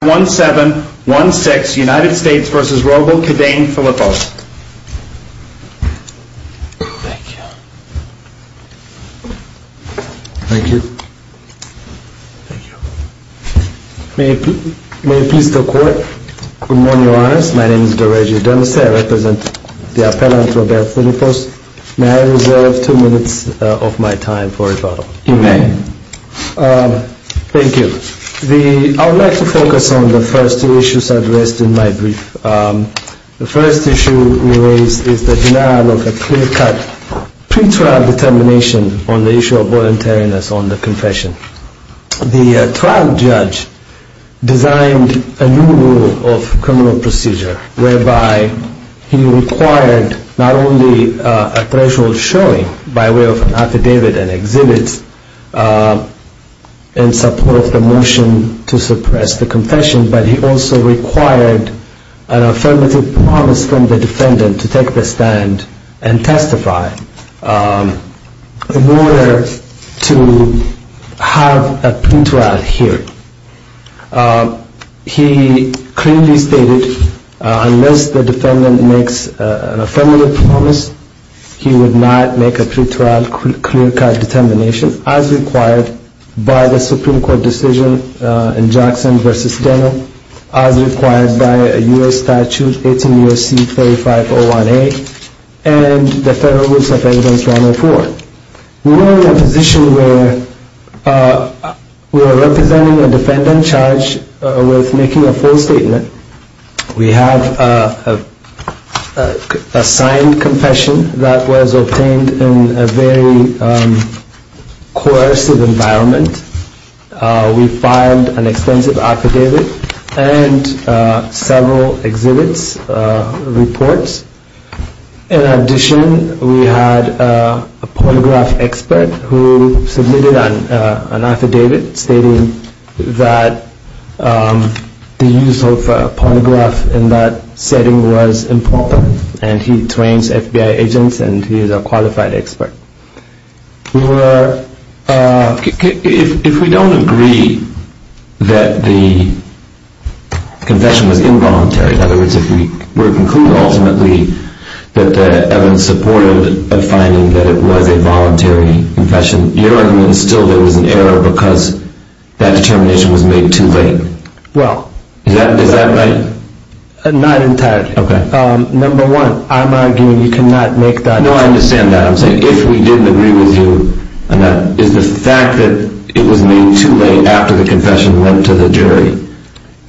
Thank you. Thank you. May it please the court. Good morning, Your Honors. My name is Dereggio D'Anastasi. I represent the appellant, Robert Phillipos. May I reserve two minutes of my time for rebuttal? You may. Thank you. I would like to focus on the first two issues addressed in my brief. The first issue we raise is the denial of a clear-cut pre-trial determination on the issue of voluntariness on the confession. The trial judge designed a new rule of criminal procedure whereby he required not only a threshold showing by way of an affidavit and exhibits in support of the motion to suppress the confession, but he also required an affirmative promise from the defendant to take the stand and testify in order to have a pre-trial hearing. He clearly stated unless the defendant makes an affirmative promise, he would not make a pre-trial clear-cut determination as required by the Supreme Court decision in Jackson v. Steno as required by U.S. Statute 18 U.S.C. 3501A and the Federal Rules of Evidence 104. We are in a position where we are representing a defendant charged with making a full statement. We have a signed confession that was obtained in a very coercive environment. We filed an extensive affidavit and several exhibits, reports. In addition, we had a pornograph expert who submitted an affidavit stating that the use of pornograph in that setting was improper, and he trains FBI agents and he is a qualified expert. If we don't agree that the confession was involuntary, in other words, if we were to conclude ultimately that the evidence supported a finding that it was a voluntary confession, your argument is still there was an error because that determination was made too late. Is that right? Not entirely. Number one, I'm arguing you cannot make that determination. No, I understand that. I'm saying if we didn't agree with you and that is the fact that it was made too late after the confession went to the jury, is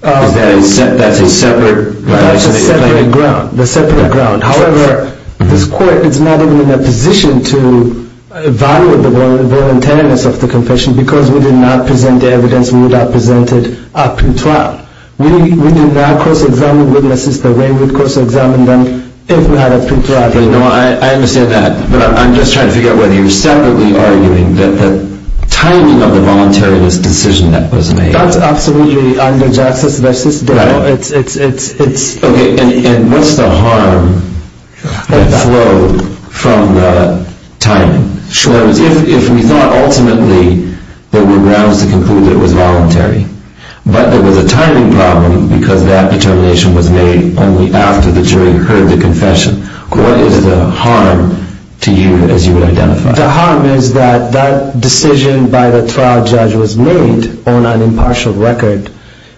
that a separate claim? It's a separate ground. However, this court is not even in a position to evaluate the voluntariness of the confession because we did not present the evidence. We would have presented a pre-trial. We did not cross-examine witnesses the way we would cross-examine them if we had a pre-trial hearing. I understand that, but I'm just trying to figure out whether you're separately arguing that the timing of the voluntary decision that was made... No, that's absolutely under justice. Okay, and what's the harm that flowed from the timing? If we thought ultimately there were grounds to conclude that it was voluntary, but there was a timing problem because that determination was made only after the jury heard the confession, what is the harm to you as you would identify? The harm is that that decision by the trial judge was made on an impartial record,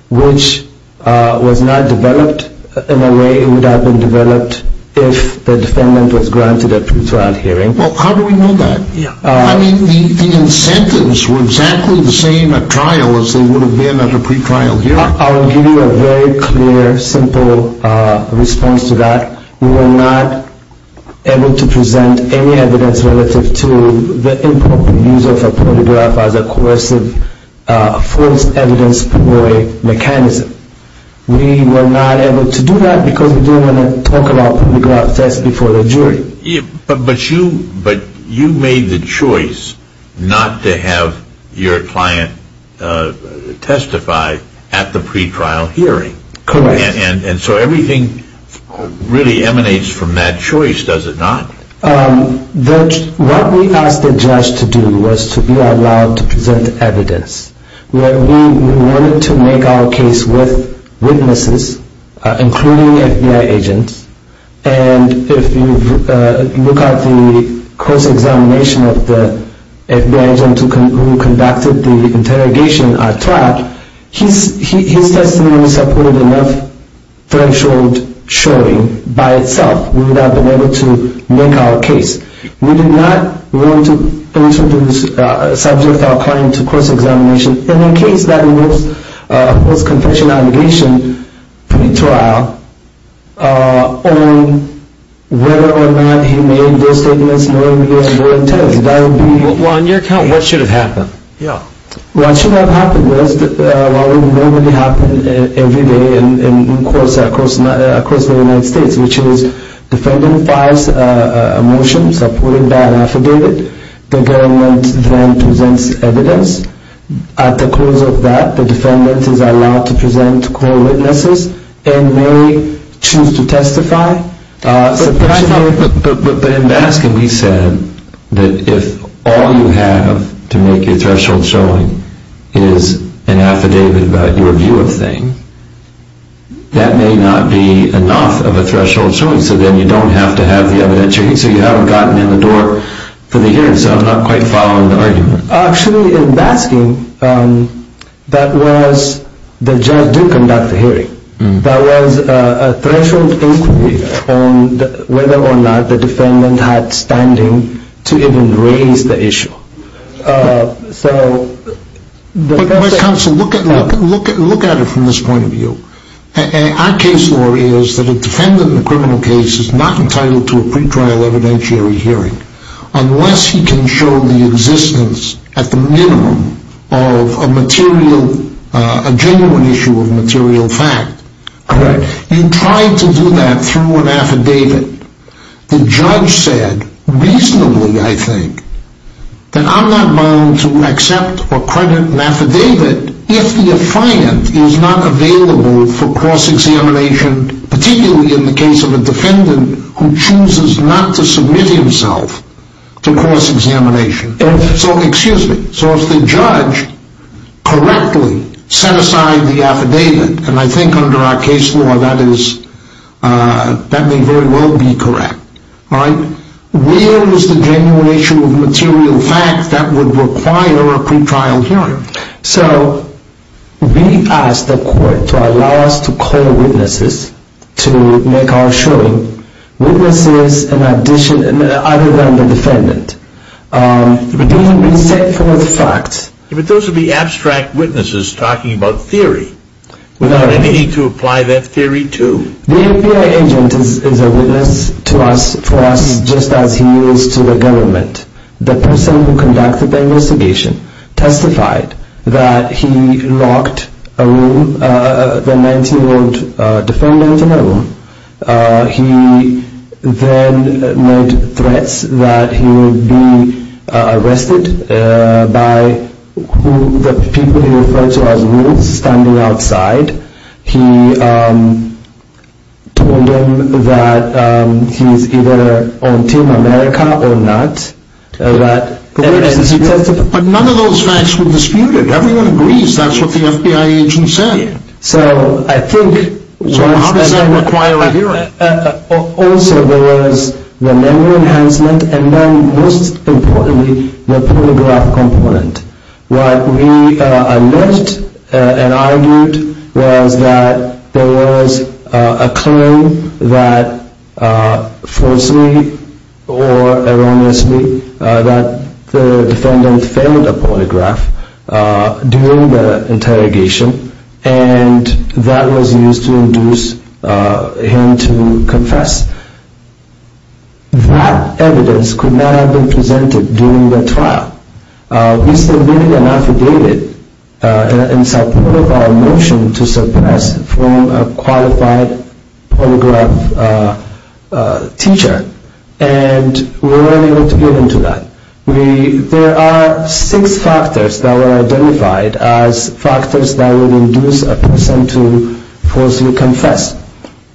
which was not developed in the way it would have been developed if the defendant was granted a pre-trial hearing. Well, how do we know that? I mean, the incentives were exactly the same at trial as they would have been at a pre-trial hearing. I will give you a very clear, simple response to that. We were not able to present any evidence relative to the improper use of a polygraph as a coercive, false evidence avoid mechanism. We were not able to do that because we didn't want to talk about polygraph tests before the jury. But you made the choice not to have your client testify at the pre-trial hearing. Correct. And so everything really emanates from that choice, does it not? What we asked the judge to do was to be allowed to present evidence. We wanted to make our case with witnesses, including FBI agents, and if you look at the course examination of the FBI agent who conducted the interrogation at trial, his testimony supported enough threshold showing by itself we would have been able to make our case. We did not want to introduce a subject to our client's course examination in the case that was a confidential allegation pre-trial on whether or not he made those statements knowing we were doing tests. Well, on your account, what should have happened? What should have happened was what would normally happen every day in courts across the United States, which is the defendant files a motion supporting that affidavit. The government then presents evidence. At the close of that, the defendant is allowed to present core witnesses and may choose to testify. But in Baskin, we said that if all you have to make your threshold showing is an affidavit about your view of things, that may not be enough of a threshold showing, so then you don't have to have the evidence. So you haven't gotten in the door for the hearing, so I'm not quite following the argument. Actually, in Baskin, that was the judge did conduct the hearing. There was a threshold inquiry on whether or not the defendant had standing to even raise the issue. But, Mr. Counsel, look at it from this point of view. Our case law is that a defendant in a criminal case is not entitled to a pre-trial evidentiary hearing unless he can show the existence at the minimum of a genuine issue of material fact. You try to do that through an affidavit. The judge said reasonably, I think, that I'm not bound to accept or credit an affidavit if the affiant is not available for cross-examination, particularly in the case of a defendant who chooses not to submit himself to cross-examination. So if the judge correctly set aside the affidavit, and I think under our case law that may very well be correct, where is the genuine issue of material fact that would require a pre-trial hearing? So we asked the court to allow us to call witnesses to make our showing. Witnesses other than the defendant. But those would be abstract witnesses talking about theory, without any need to apply that theory to... The FBI agent is a witness to us, for us, just as he is to the government. The person who conducted the investigation testified that he locked the 19-year-old defendant in a room. He then made threats that he would be arrested by the people he referred to as Roots, standing outside. He told them that he's either on Team America or not. But none of those facts were disputed. Everyone agrees that's what the FBI agent said. So I think... So how does that require a hearing? Also, there was the memory enhancement and then, most importantly, the polygraph component. What we alleged and argued was that there was a claim that, falsely or erroneously, that the defendant failed a polygraph during the interrogation and that was used to induce him to confess. That evidence could not have been presented during the trial. We submitted an affidavit in support of our motion to suppress from a qualified polygraph teacher. And we weren't able to get into that. There are six factors that were identified as factors that would induce a person to falsely confess.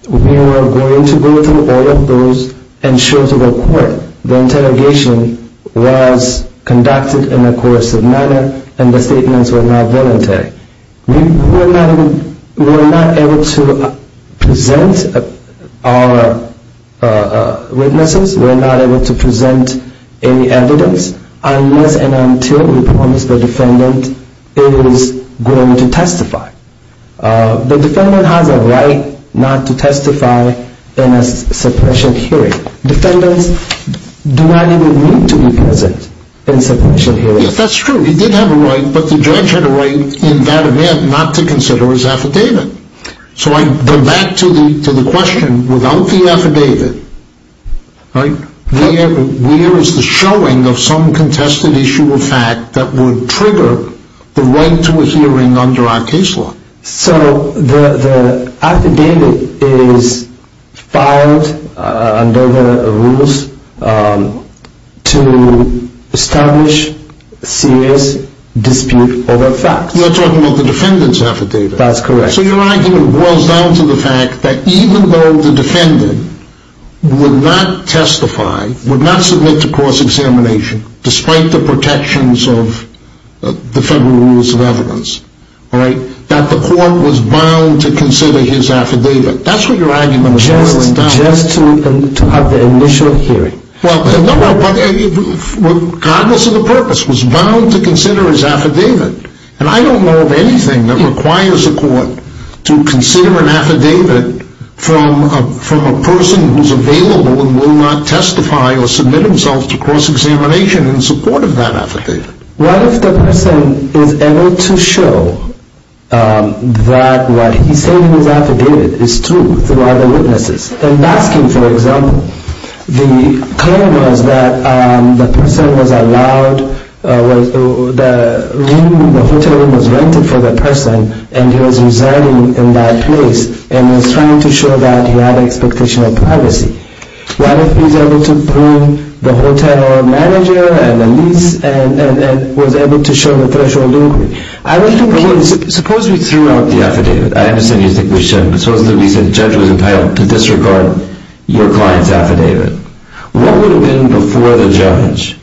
We were going to go through all of those and show to the court that the interrogation was conducted in a coercive manner and the statements were not voluntary. We were not able to present our witnesses. We were not able to present any evidence unless and until we promised the defendant it was going to testify. The defendant has a right not to testify in a suppression hearing. Defendants do not even need to be present in a suppression hearing. Yes, that's true. He did have a right, but the judge had a right in that event not to consider his affidavit. So I go back to the question, without the affidavit, where is the showing of some contested issue of fact that would trigger the right to a hearing under our case law? So the affidavit is filed under the rules to establish serious dispute over facts. You're talking about the defendant's affidavit. That's correct. So your argument boils down to the fact that even though the defendant would not testify, would not submit to course examination despite the protections of the federal rules of evidence, that the court was bound to consider his affidavit. That's what your argument boils down to. Just to have the initial hearing. Regardless of the purpose, was bound to consider his affidavit. And I don't know of anything that requires a court to consider an affidavit from a person who is available and will not testify or submit himself to course examination in support of that affidavit. What if the person is able to show that what he said in his affidavit is true through other witnesses? I'm asking for example, the claim was that the person was allowed, the hotel room was rented for the person and he was residing in that place and was trying to show that he had expectation of privacy. What if he's able to prove the hotel manager and the lease and was able to show the threshold inquiry? Suppose we threw out the affidavit. I understand you think we shouldn't, but suppose we said the judge was entitled to disregard your client's affidavit. What would have been before the judge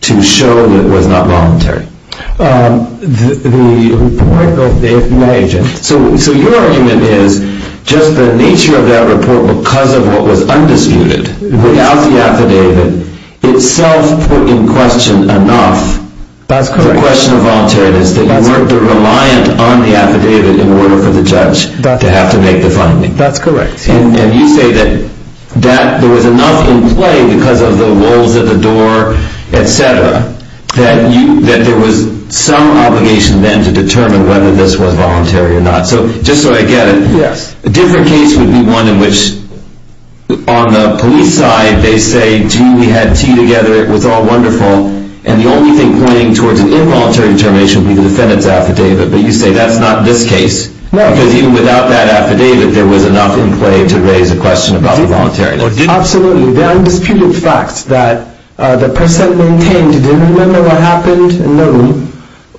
to show that it was not voluntary? The report of the agent. So your argument is just the nature of that report, because of what was undisputed, without the affidavit, itself put in question enough the question of voluntariness, that you weren't reliant on the affidavit in order for the judge to have to make the finding. That's correct. And you say that there was enough in play because of the lulls at the door, et cetera, that there was some obligation then to determine whether this was voluntary or not. So just so I get it, a different case would be one in which on the police side they say, gee, we had tea together, it was all wonderful, and the only thing pointing towards an involuntary determination would be the defendant's affidavit. But you say that's not this case, because even without that affidavit, there was enough in play to raise a question about the voluntariness. Absolutely. The undisputed facts that the person maintained didn't remember what happened in the room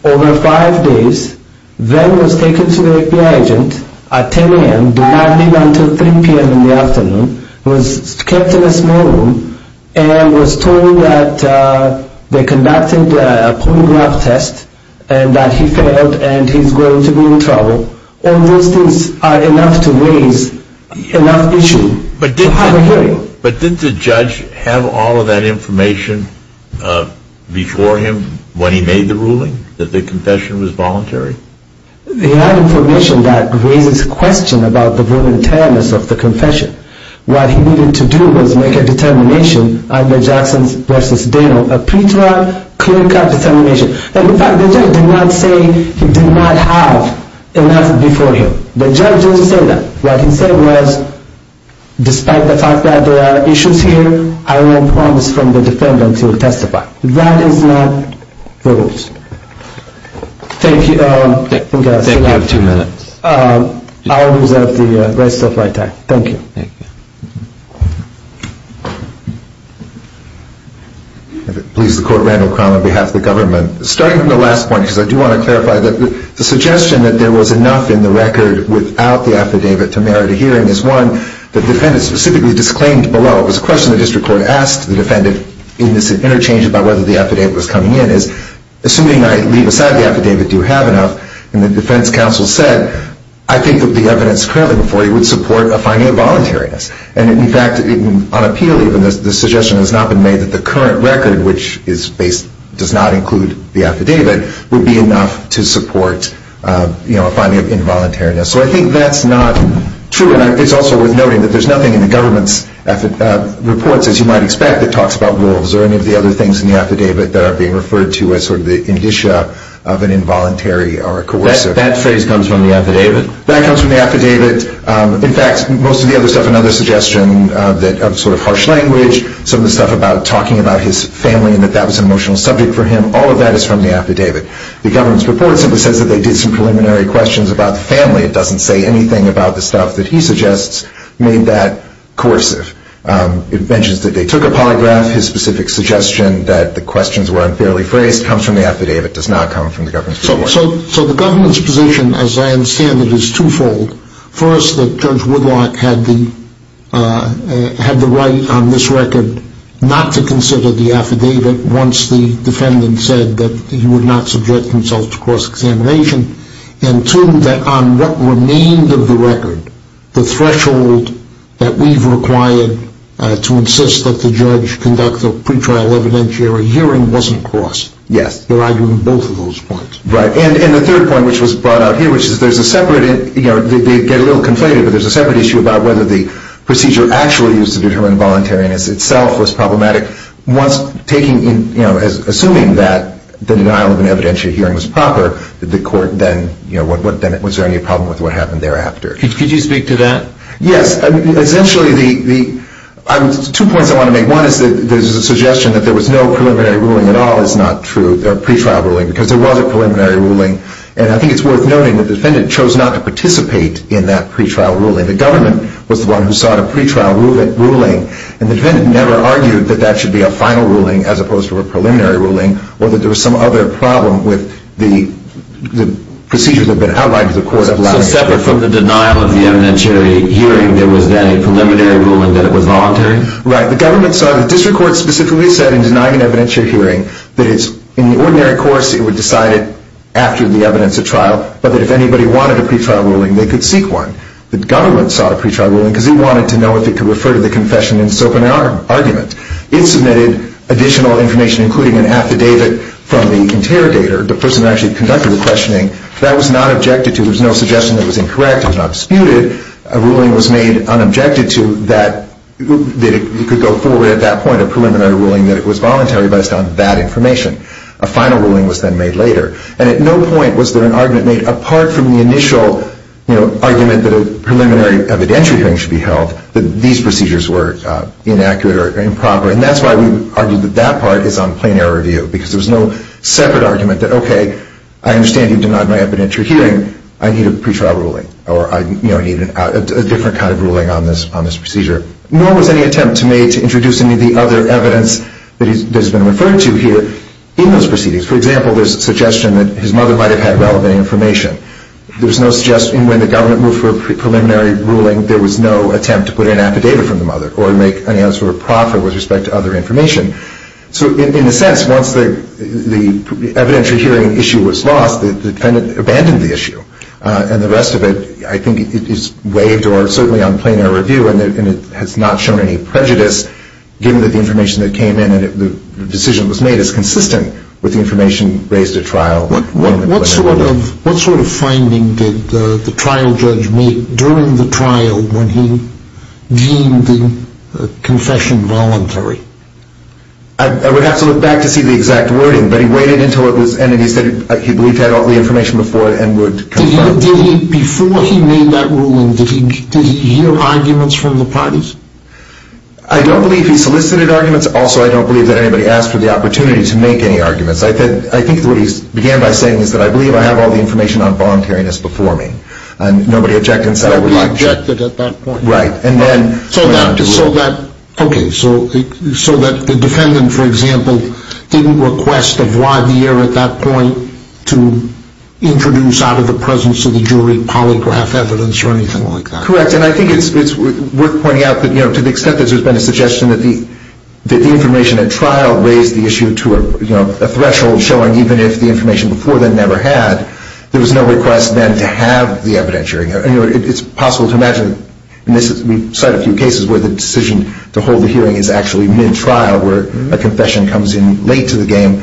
over five days, then was taken to the FBI agent at 10 a.m., do not leave until 3 p.m. in the afternoon, was kept in a small room, and was told that they conducted a polygraph test, and that he failed and he's going to be in trouble. All those things are enough to raise enough issue to have a hearing. But didn't the judge have all of that information before him when he made the ruling, that the confession was voluntary? He had information that raises questions about the voluntariness of the confession. What he needed to do was make a determination under Jackson v. Dano, a pre-trial clinical determination. In fact, the judge did not say he did not have enough before him. The judge didn't say that. What he said was, despite the fact that there are issues here, I will promise from the defendant he will testify. That is not the rules. Thank you. Thank you. You have two minutes. I will reserve the rest of my time. Thank you. Thank you. If it pleases the Court, Randall Crown on behalf of the government. Starting from the last point, because I do want to clarify that the suggestion that there was enough in the record without the affidavit to merit a hearing is one that the defendant specifically disclaimed below. It was a question the district court asked the defendant in this interchange about whether the affidavit was coming in. Assuming I leave aside the affidavit, do you have enough? And the defense counsel said, I think that the evidence currently before you would support a finding of voluntariness. And, in fact, on appeal even, the suggestion has not been made that the current record, which does not include the affidavit, would be enough to support a finding of involuntariness. So I think that's not true. And it's also worth noting that there's nothing in the government's reports, as you might expect, that talks about rules or any of the other things in the affidavit that are being referred to as sort of the indicia of an involuntary or a coercive. That phrase comes from the affidavit? That comes from the affidavit. In fact, most of the other stuff, another suggestion of sort of harsh language, some of the stuff about talking about his family and that that was an emotional subject for him, all of that is from the affidavit. The government's report simply says that they did some preliminary questions about the family. It doesn't say anything about the stuff that he suggests made that coercive. It mentions that they took a polygraph. His specific suggestion that the questions were unfairly phrased comes from the affidavit. It does not come from the government's report. So the government's position, as I understand it, is twofold. First, that Judge Woodlock had the right on this record not to consider the affidavit once the defendant said that he would not subject himself to cross-examination. And two, that on what remained of the record, the threshold that we've required to insist that the judge conduct a pretrial evidentiary hearing wasn't crossed. Yes. Right. And the third point, which was brought out here, which is there's a separate, you know, they get a little conflated, but there's a separate issue about whether the procedure actually used to determine the voluntariness itself was problematic. Once taking, you know, assuming that the denial of an evidentiary hearing was proper, did the court then, you know, was there any problem with what happened thereafter? Could you speak to that? Yes. Essentially the, two points I want to make. One is that there's a suggestion that there was no preliminary ruling at all. That is not true. There's a pretrial ruling because there was a preliminary ruling. And I think it's worth noting that the defendant chose not to participate in that pretrial ruling. The government was the one who sought a pretrial ruling, and the defendant never argued that that should be a final ruling as opposed to a preliminary ruling or that there was some other problem with the procedures that had been outlined to the court. So separate from the denial of the evidentiary hearing, there was then a preliminary ruling that it was voluntary? Right. The government sought, the district court specifically said in denying an evidentiary hearing that it's in the ordinary course it would decide it after the evidence of trial, but that if anybody wanted a pretrial ruling they could seek one. The government sought a pretrial ruling because it wanted to know if it could refer to the confession in its open argument. It submitted additional information, including an affidavit from the interrogator, the person who actually conducted the questioning. That was not objected to. There was no suggestion that it was incorrect. It was not disputed. A ruling was made unobjected to that it could go forward at that point, a preliminary ruling that it was voluntary based on that information. A final ruling was then made later. And at no point was there an argument made apart from the initial argument that a preliminary evidentiary hearing should be held that these procedures were inaccurate or improper, and that's why we argued that that part is on plain error review because there was no separate argument that, okay, I understand you denied my evidentiary hearing. I need a pretrial ruling, or I need a different kind of ruling on this procedure. Nor was any attempt made to introduce any of the other evidence that has been referred to here in those proceedings. For example, there's a suggestion that his mother might have had relevant information. There was no suggestion when the government moved for a preliminary ruling there was no attempt to put in an affidavit from the mother or make any other sort of profit with respect to other information. So in a sense, once the evidentiary hearing issue was lost, the defendant abandoned the issue, and the rest of it I think is waived or certainly on plain error review, and it has not shown any prejudice given that the information that came in and the decision that was made is consistent with the information raised at trial. What sort of finding did the trial judge make during the trial when he deemed the confession voluntary? I would have to look back to see the exact wording, but he waited until it was in and he said he believed he had all the information before and would confirm. Before he made that ruling, did he hear arguments from the parties? I don't believe he solicited arguments. Also, I don't believe that anybody asked for the opportunity to make any arguments. I think what he began by saying is that I believe I have all the information on voluntariness before me, and nobody objected and said I would like to. Nobody objected at that point. Right, and then went on to rule. Okay, so the defendant, for example, didn't request a voir dire at that point to introduce out of the presence of the jury polygraph evidence or anything like that. Correct, and I think it's worth pointing out that to the extent that there's been a suggestion that the information at trial raised the issue to a threshold showing even if the information before then never had, there was no request then to have the evidentiary. It's possible to imagine, and we cite a few cases where the decision to hold the hearing is actually mid-trial where a confession comes in late to the game.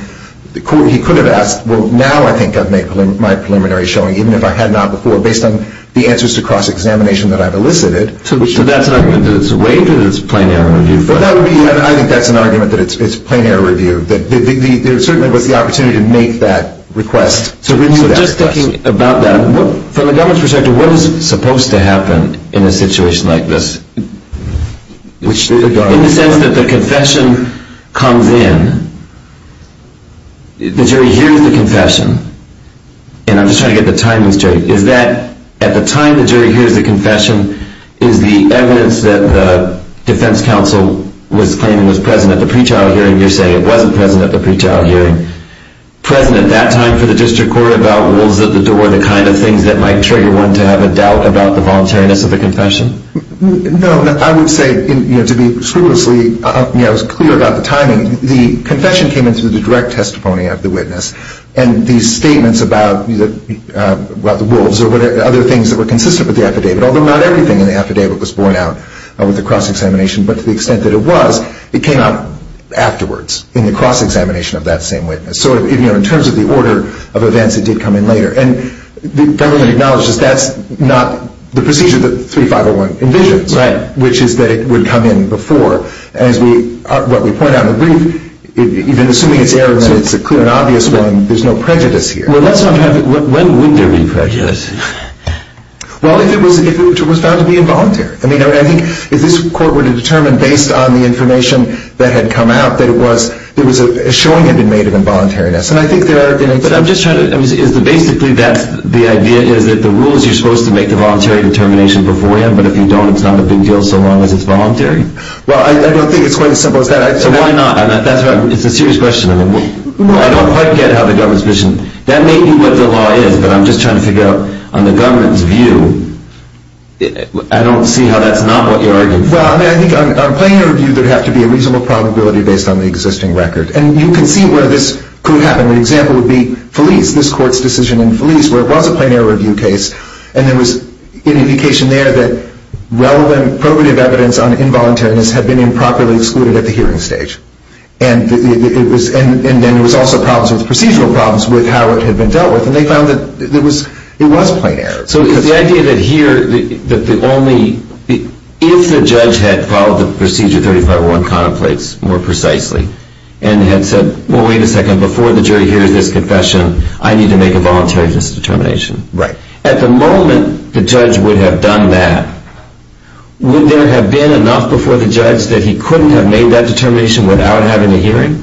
He could have asked, well, now I think I've made my preliminary showing, even if I had not before based on the answers to cross-examination that I've elicited. So that's an argument that it's waived or that it's plain error review? I think that's an argument that it's plain error review. There certainly was the opportunity to make that request. So just thinking about that, from the government's perspective, what is supposed to happen in a situation like this? In the sense that the confession comes in, the jury hears the confession, and I'm just trying to get the timing straight, is that at the time the jury hears the confession, is the evidence that the defense counsel was claiming was present at the pre-trial hearing, you're saying it wasn't present at the pre-trial hearing, present at that time for the district court about wolves at the door, the kind of things that might trigger one to have a doubt about the voluntariness of a confession? No, I would say to be scrupulously clear about the timing, the confession came in through the direct testimony of the witness, and these statements about the wolves or other things that were consistent with the affidavit, although not everything in the affidavit was borne out with the cross-examination, but to the extent that it was, it came out afterwards in the cross-examination of that same witness. So in terms of the order of events, it did come in later. And the government acknowledges that's not the procedure that 3501 envisions, which is that it would come in before. As we point out in the brief, even assuming it's error, and it's a clear and obvious one, there's no prejudice here. When would there be prejudice? Well, if it was found to be involuntary. I mean, I think if this court were to determine based on the information that had come out that a showing had been made of involuntariness, and I think there are going to be. But I'm just trying to, basically the idea is that the rule is you're supposed to make the voluntary determination beforehand, but if you don't, it's not a big deal so long as it's voluntary. Well, I don't think it's quite as simple as that. So why not? It's a serious question. I don't quite get how the government's vision, that may be what the law is, but I'm just trying to figure out on the government's view. I don't see how that's not what you're arguing for. Well, I think on a plenary review, there would have to be a reasonable probability based on the existing record. And you can see where this could happen. An example would be Felice, this court's decision in Felice, where it was a plenary review case, and there was an indication there that relevant probative evidence on involuntariness had been improperly excluded at the hearing stage. And then there was also problems with procedural problems with how it had been dealt with, and they found that it was plain error. So the idea that here, that the only, if the judge had followed the procedure 35-1 contemplates more precisely, and had said, well, wait a second, before the jury hears this confession, I need to make a voluntary determination. Right. At the moment the judge would have done that, would there have been enough before the judge that he couldn't have made that determination without having a hearing?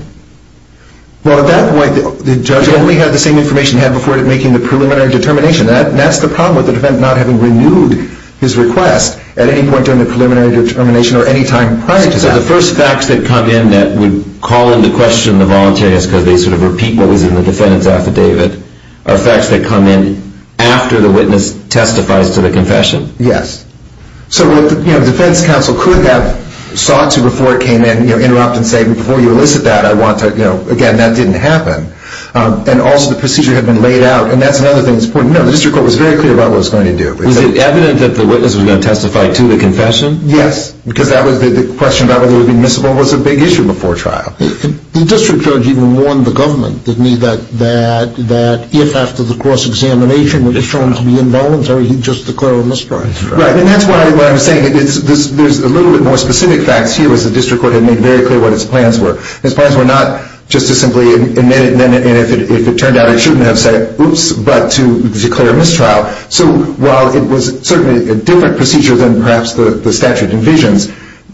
Well, at that point, the judge only had the same information he had before making the preliminary determination. That's the problem with the defendant not having renewed his request at any point during the preliminary determination or any time prior to that. So the first facts that come in that would call into question the voluntariness, because they sort of repeat what was in the defendant's affidavit, are facts that come in after the witness testifies to the confession? Yes. So the defense counsel could have sought to, before it came in, interrupt and say, before you elicit that, I want to, again, that didn't happen. And also the procedure had been laid out, and that's another thing that's important. No, the district court was very clear about what it was going to do. Was it evident that the witness was going to testify to the confession? Yes. Because the question about whether it would be admissible was a big issue before trial. The district judge even warned the government, didn't he, that if after the cross-examination it was shown to be involuntary, he'd just declare a mistrial. Right, and that's what I'm saying. There's a little bit more specific facts here, as the district court had made very clear what its plans were. Its plans were not just to simply admit it, and if it turned out it shouldn't have said, oops, but to declare a mistrial. So while it was certainly a different procedure than perhaps the statute envisions,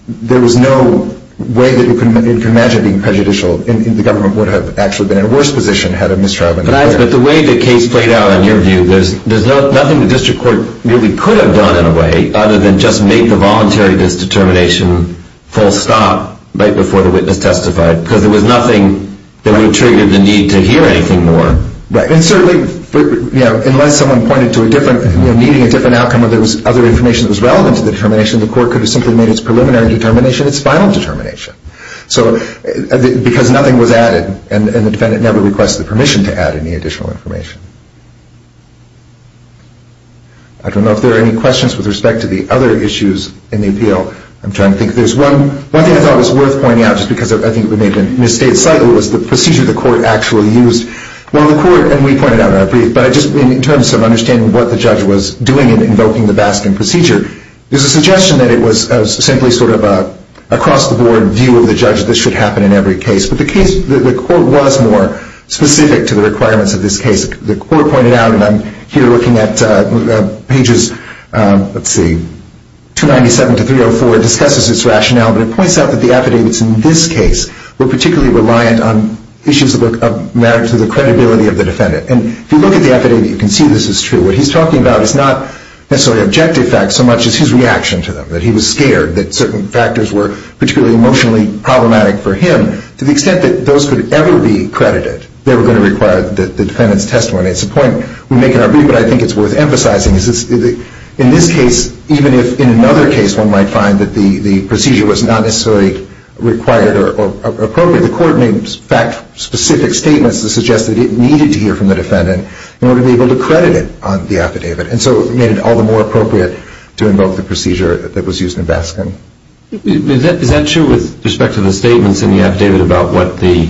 there was no way that you can imagine being prejudicial, and the government would have actually been in a worse position had a mistrial been declared. But the way the case played out, in your view, there's nothing the district court really could have done, in a way, other than just make the voluntary disdetermination full stop right before the witness testified, because there was nothing that would have triggered the need to hear anything more. Right, and certainly, you know, unless someone pointed to a different, you know, needing a different outcome or there was other information that was relevant to the determination, the court could have simply made its preliminary determination its final determination. So because nothing was added, and the defendant never requested the permission to add any additional information. I don't know if there are any questions with respect to the other issues in the appeal. I'm trying to think. There's one thing I thought was worth pointing out, just because I think it may have been misstated slightly, was the procedure the court actually used. Well, the court, and we pointed out in our brief, but just in terms of understanding what the judge was doing in invoking the Baskin procedure, there's a suggestion that it was simply sort of an across-the-board view of the judge that this should happen in every case. But the court was more specific to the requirements of this case. The court pointed out, and I'm here looking at pages, let's see, 297 to 304, discusses its rationale, but it points out that the affidavits in this case were particularly reliant on issues of merit to the credibility of the defendant. And if you look at the affidavit, you can see this is true. What he's talking about is not necessarily objective facts so much as his reaction to them, that he was scared that certain factors were particularly emotionally problematic for him. To the extent that those could ever be credited, they were going to require the defendant's testimony. It's a point we make in our brief, but I think it's worth emphasizing. In this case, even if in another case one might find that the procedure was not necessarily required or appropriate, the court made fact-specific statements to suggest that it needed to hear from the defendant in order to be able to credit it on the affidavit. And so it made it all the more appropriate to invoke the procedure that was used in Baskin. Is that true with respect to the statements in the affidavit about what the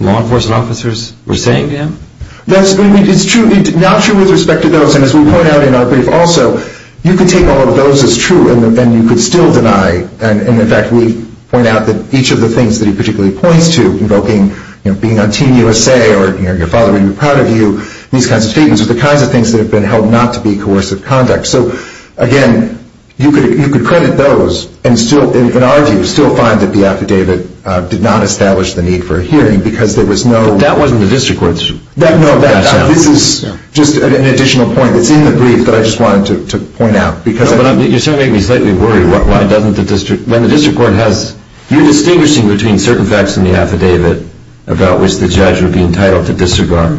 law enforcement officers were saying to him? That's true. It's not true with respect to those. And as we point out in our brief also, you can take all of those as true and you could still deny. And, in fact, we point out that each of the things that he particularly points to, invoking being on Team USA or your father would be proud of you, these kinds of statements are the kinds of things that have been held not to be coercive conduct. So, again, you could credit those and still, in our view, still find that the affidavit did not establish the need for a hearing because there was no- That wasn't the district court's- No, this is just an additional point that's in the brief that I just wanted to point out. You're certainly making me slightly worried. When the district court has- You're distinguishing between certain facts in the affidavit about which the judge would be entitled to disregard.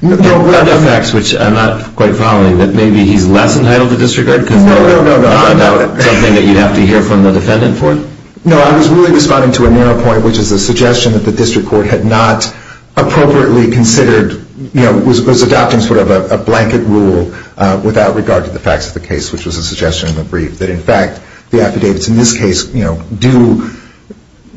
What are the facts, which I'm not quite following, that maybe he's less entitled to disregard? No, no, no. Something that you'd have to hear from the defendant for? No, I was really responding to a narrow point, which is the suggestion that the district court had not appropriately considered- which was a suggestion in the brief- that, in fact, the affidavits in this case do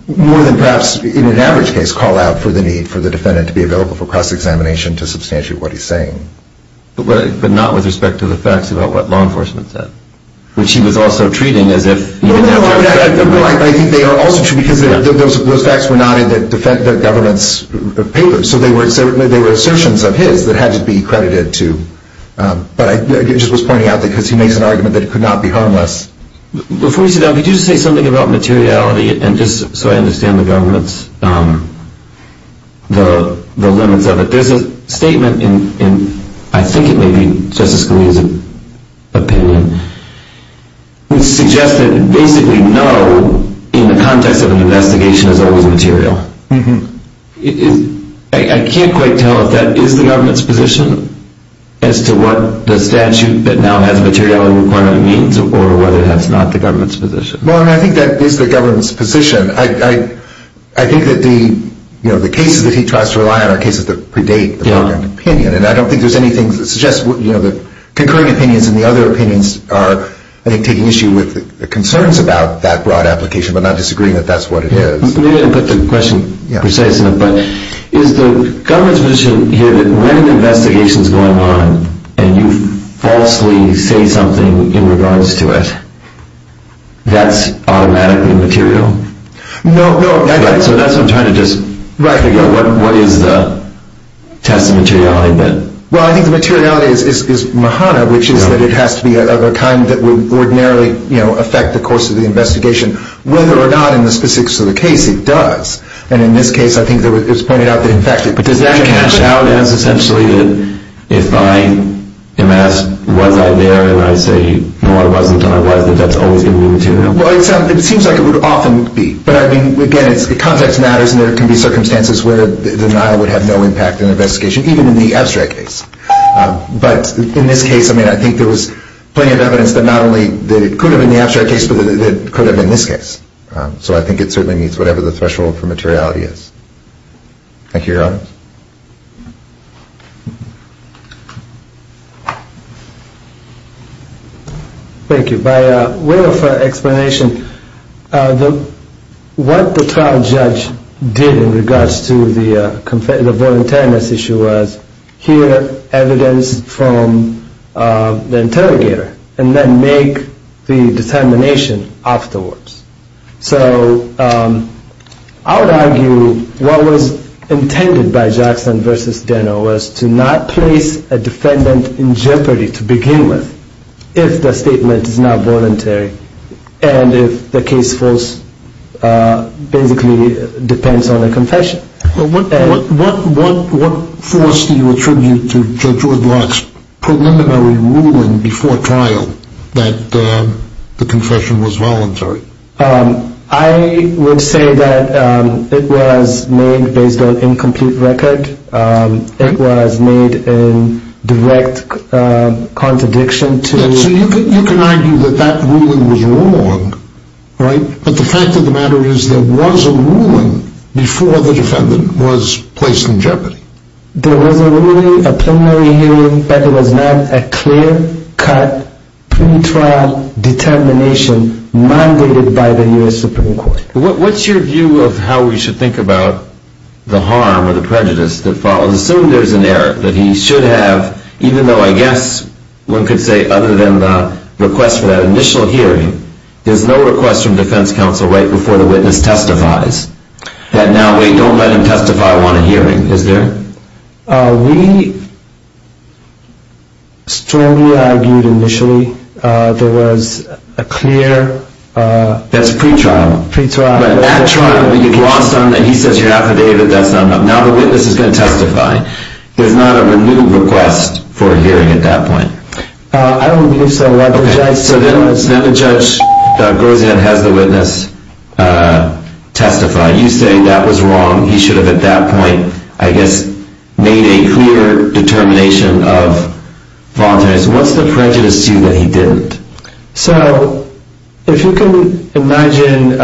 more than perhaps, in an average case, call out for the need for the defendant to be available for cross-examination to substantiate what he's saying. But not with respect to the facts about what law enforcement said, which he was also treating as if- No, no, no. I think they are also true because those facts were not in the government's papers, so they were assertions of his that had to be credited to- but I just was pointing out that because he makes an argument that it could not be harmless. Before we sit down, could you just say something about materiality, and just so I understand the government's- the limits of it. There's a statement in, I think it may be Justice Scalia's opinion, which suggests that basically no, in the context of an investigation, is always material. I can't quite tell if that is the government's position as to what the statute that now has a materiality requirement means, or whether that's not the government's position. Well, I think that is the government's position. I think that the cases that he tries to rely on are cases that predate the government opinion, and I don't think there's anything that suggests- the concurring opinions and the other opinions are, I think, taking issue with the concerns about that broad application, but not disagreeing that that's what it is. Maybe I didn't put the question precise enough, but is the government's position here that when an investigation is going on and you falsely say something in regards to it, that's automatically material? No, no. Okay, so that's what I'm trying to just figure out. What is the test of materiality then? Well, I think the materiality is Mahana, which is that it has to be of a kind that would ordinarily affect the course of the investigation, whether or not in the specifics of the case it does. And in this case, I think it was pointed out that, in fact- But does that cash out as essentially that if I am asked, was I there, and I say, no, I wasn't, and I was, that that's always going to be material? Well, it seems like it would often be. But, I mean, again, context matters, and there can be circumstances where denial would have no impact in an investigation, even in the abstract case. But in this case, I mean, I think there was plenty of evidence that not only that it could have been the abstract case, but that it could have been this case. So I think it certainly meets whatever the threshold for materiality is. Thank you, Your Honors. Thank you. By way of explanation, what the trial judge did in regards to the voluntariness issue was hear evidence from the interrogator, and then make the determination afterwards. So I would argue what was intended by Jackson v. Denno was to not place a defendant in jeopardy to begin with, if the statement is not voluntary, and if the case falls basically depends on a confession. What force do you attribute to Judge Woodblock's preliminary ruling before trial that the confession was voluntary? I would say that it was made based on incomplete record. It was made in direct contradiction to... So you can argue that that ruling was wrong, right? But the fact of the matter is there was a ruling before the defendant was placed in jeopardy. There was a ruling, a preliminary hearing, but it was not a clear-cut, pre-trial determination mandated by the U.S. Supreme Court. What's your view of how we should think about the harm or the prejudice that follows? Assume there's an error, that he should have, even though I guess one could say other than the request for that initial hearing, there's no request from defense counsel right before the witness testifies, that now we don't let him testify on a hearing, is there? We strongly argued initially there was a clear... That's pre-trial. Pre-trial. But at trial, you've lost on that, he says you're affidavit, that's not enough. Now the witness is going to testify. There's not a renewed request for a hearing at that point. I don't believe so. So then the judge goes in and has the witness testify. You say that was wrong, he should have at that point, I guess, made a clear determination of voluntariness. What's the prejudice to you that he didn't? So if you can imagine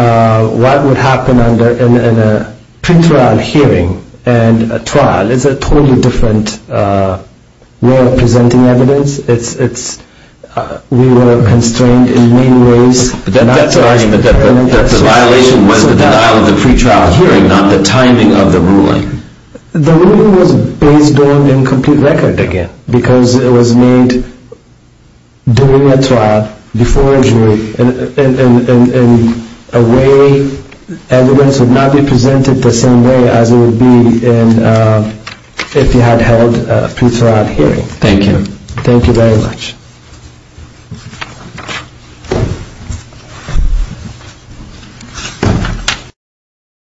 what would happen in a pre-trial hearing and a trial, it's a totally different way of presenting evidence. We were constrained in many ways. That's the violation was the denial of the pre-trial hearing, not the timing of the ruling. The ruling was based on incomplete record again because it was made during a trial, before a jury, and a way evidence would not be presented the same way as it would be if you had held a pre-trial hearing. Thank you. Thank you very much.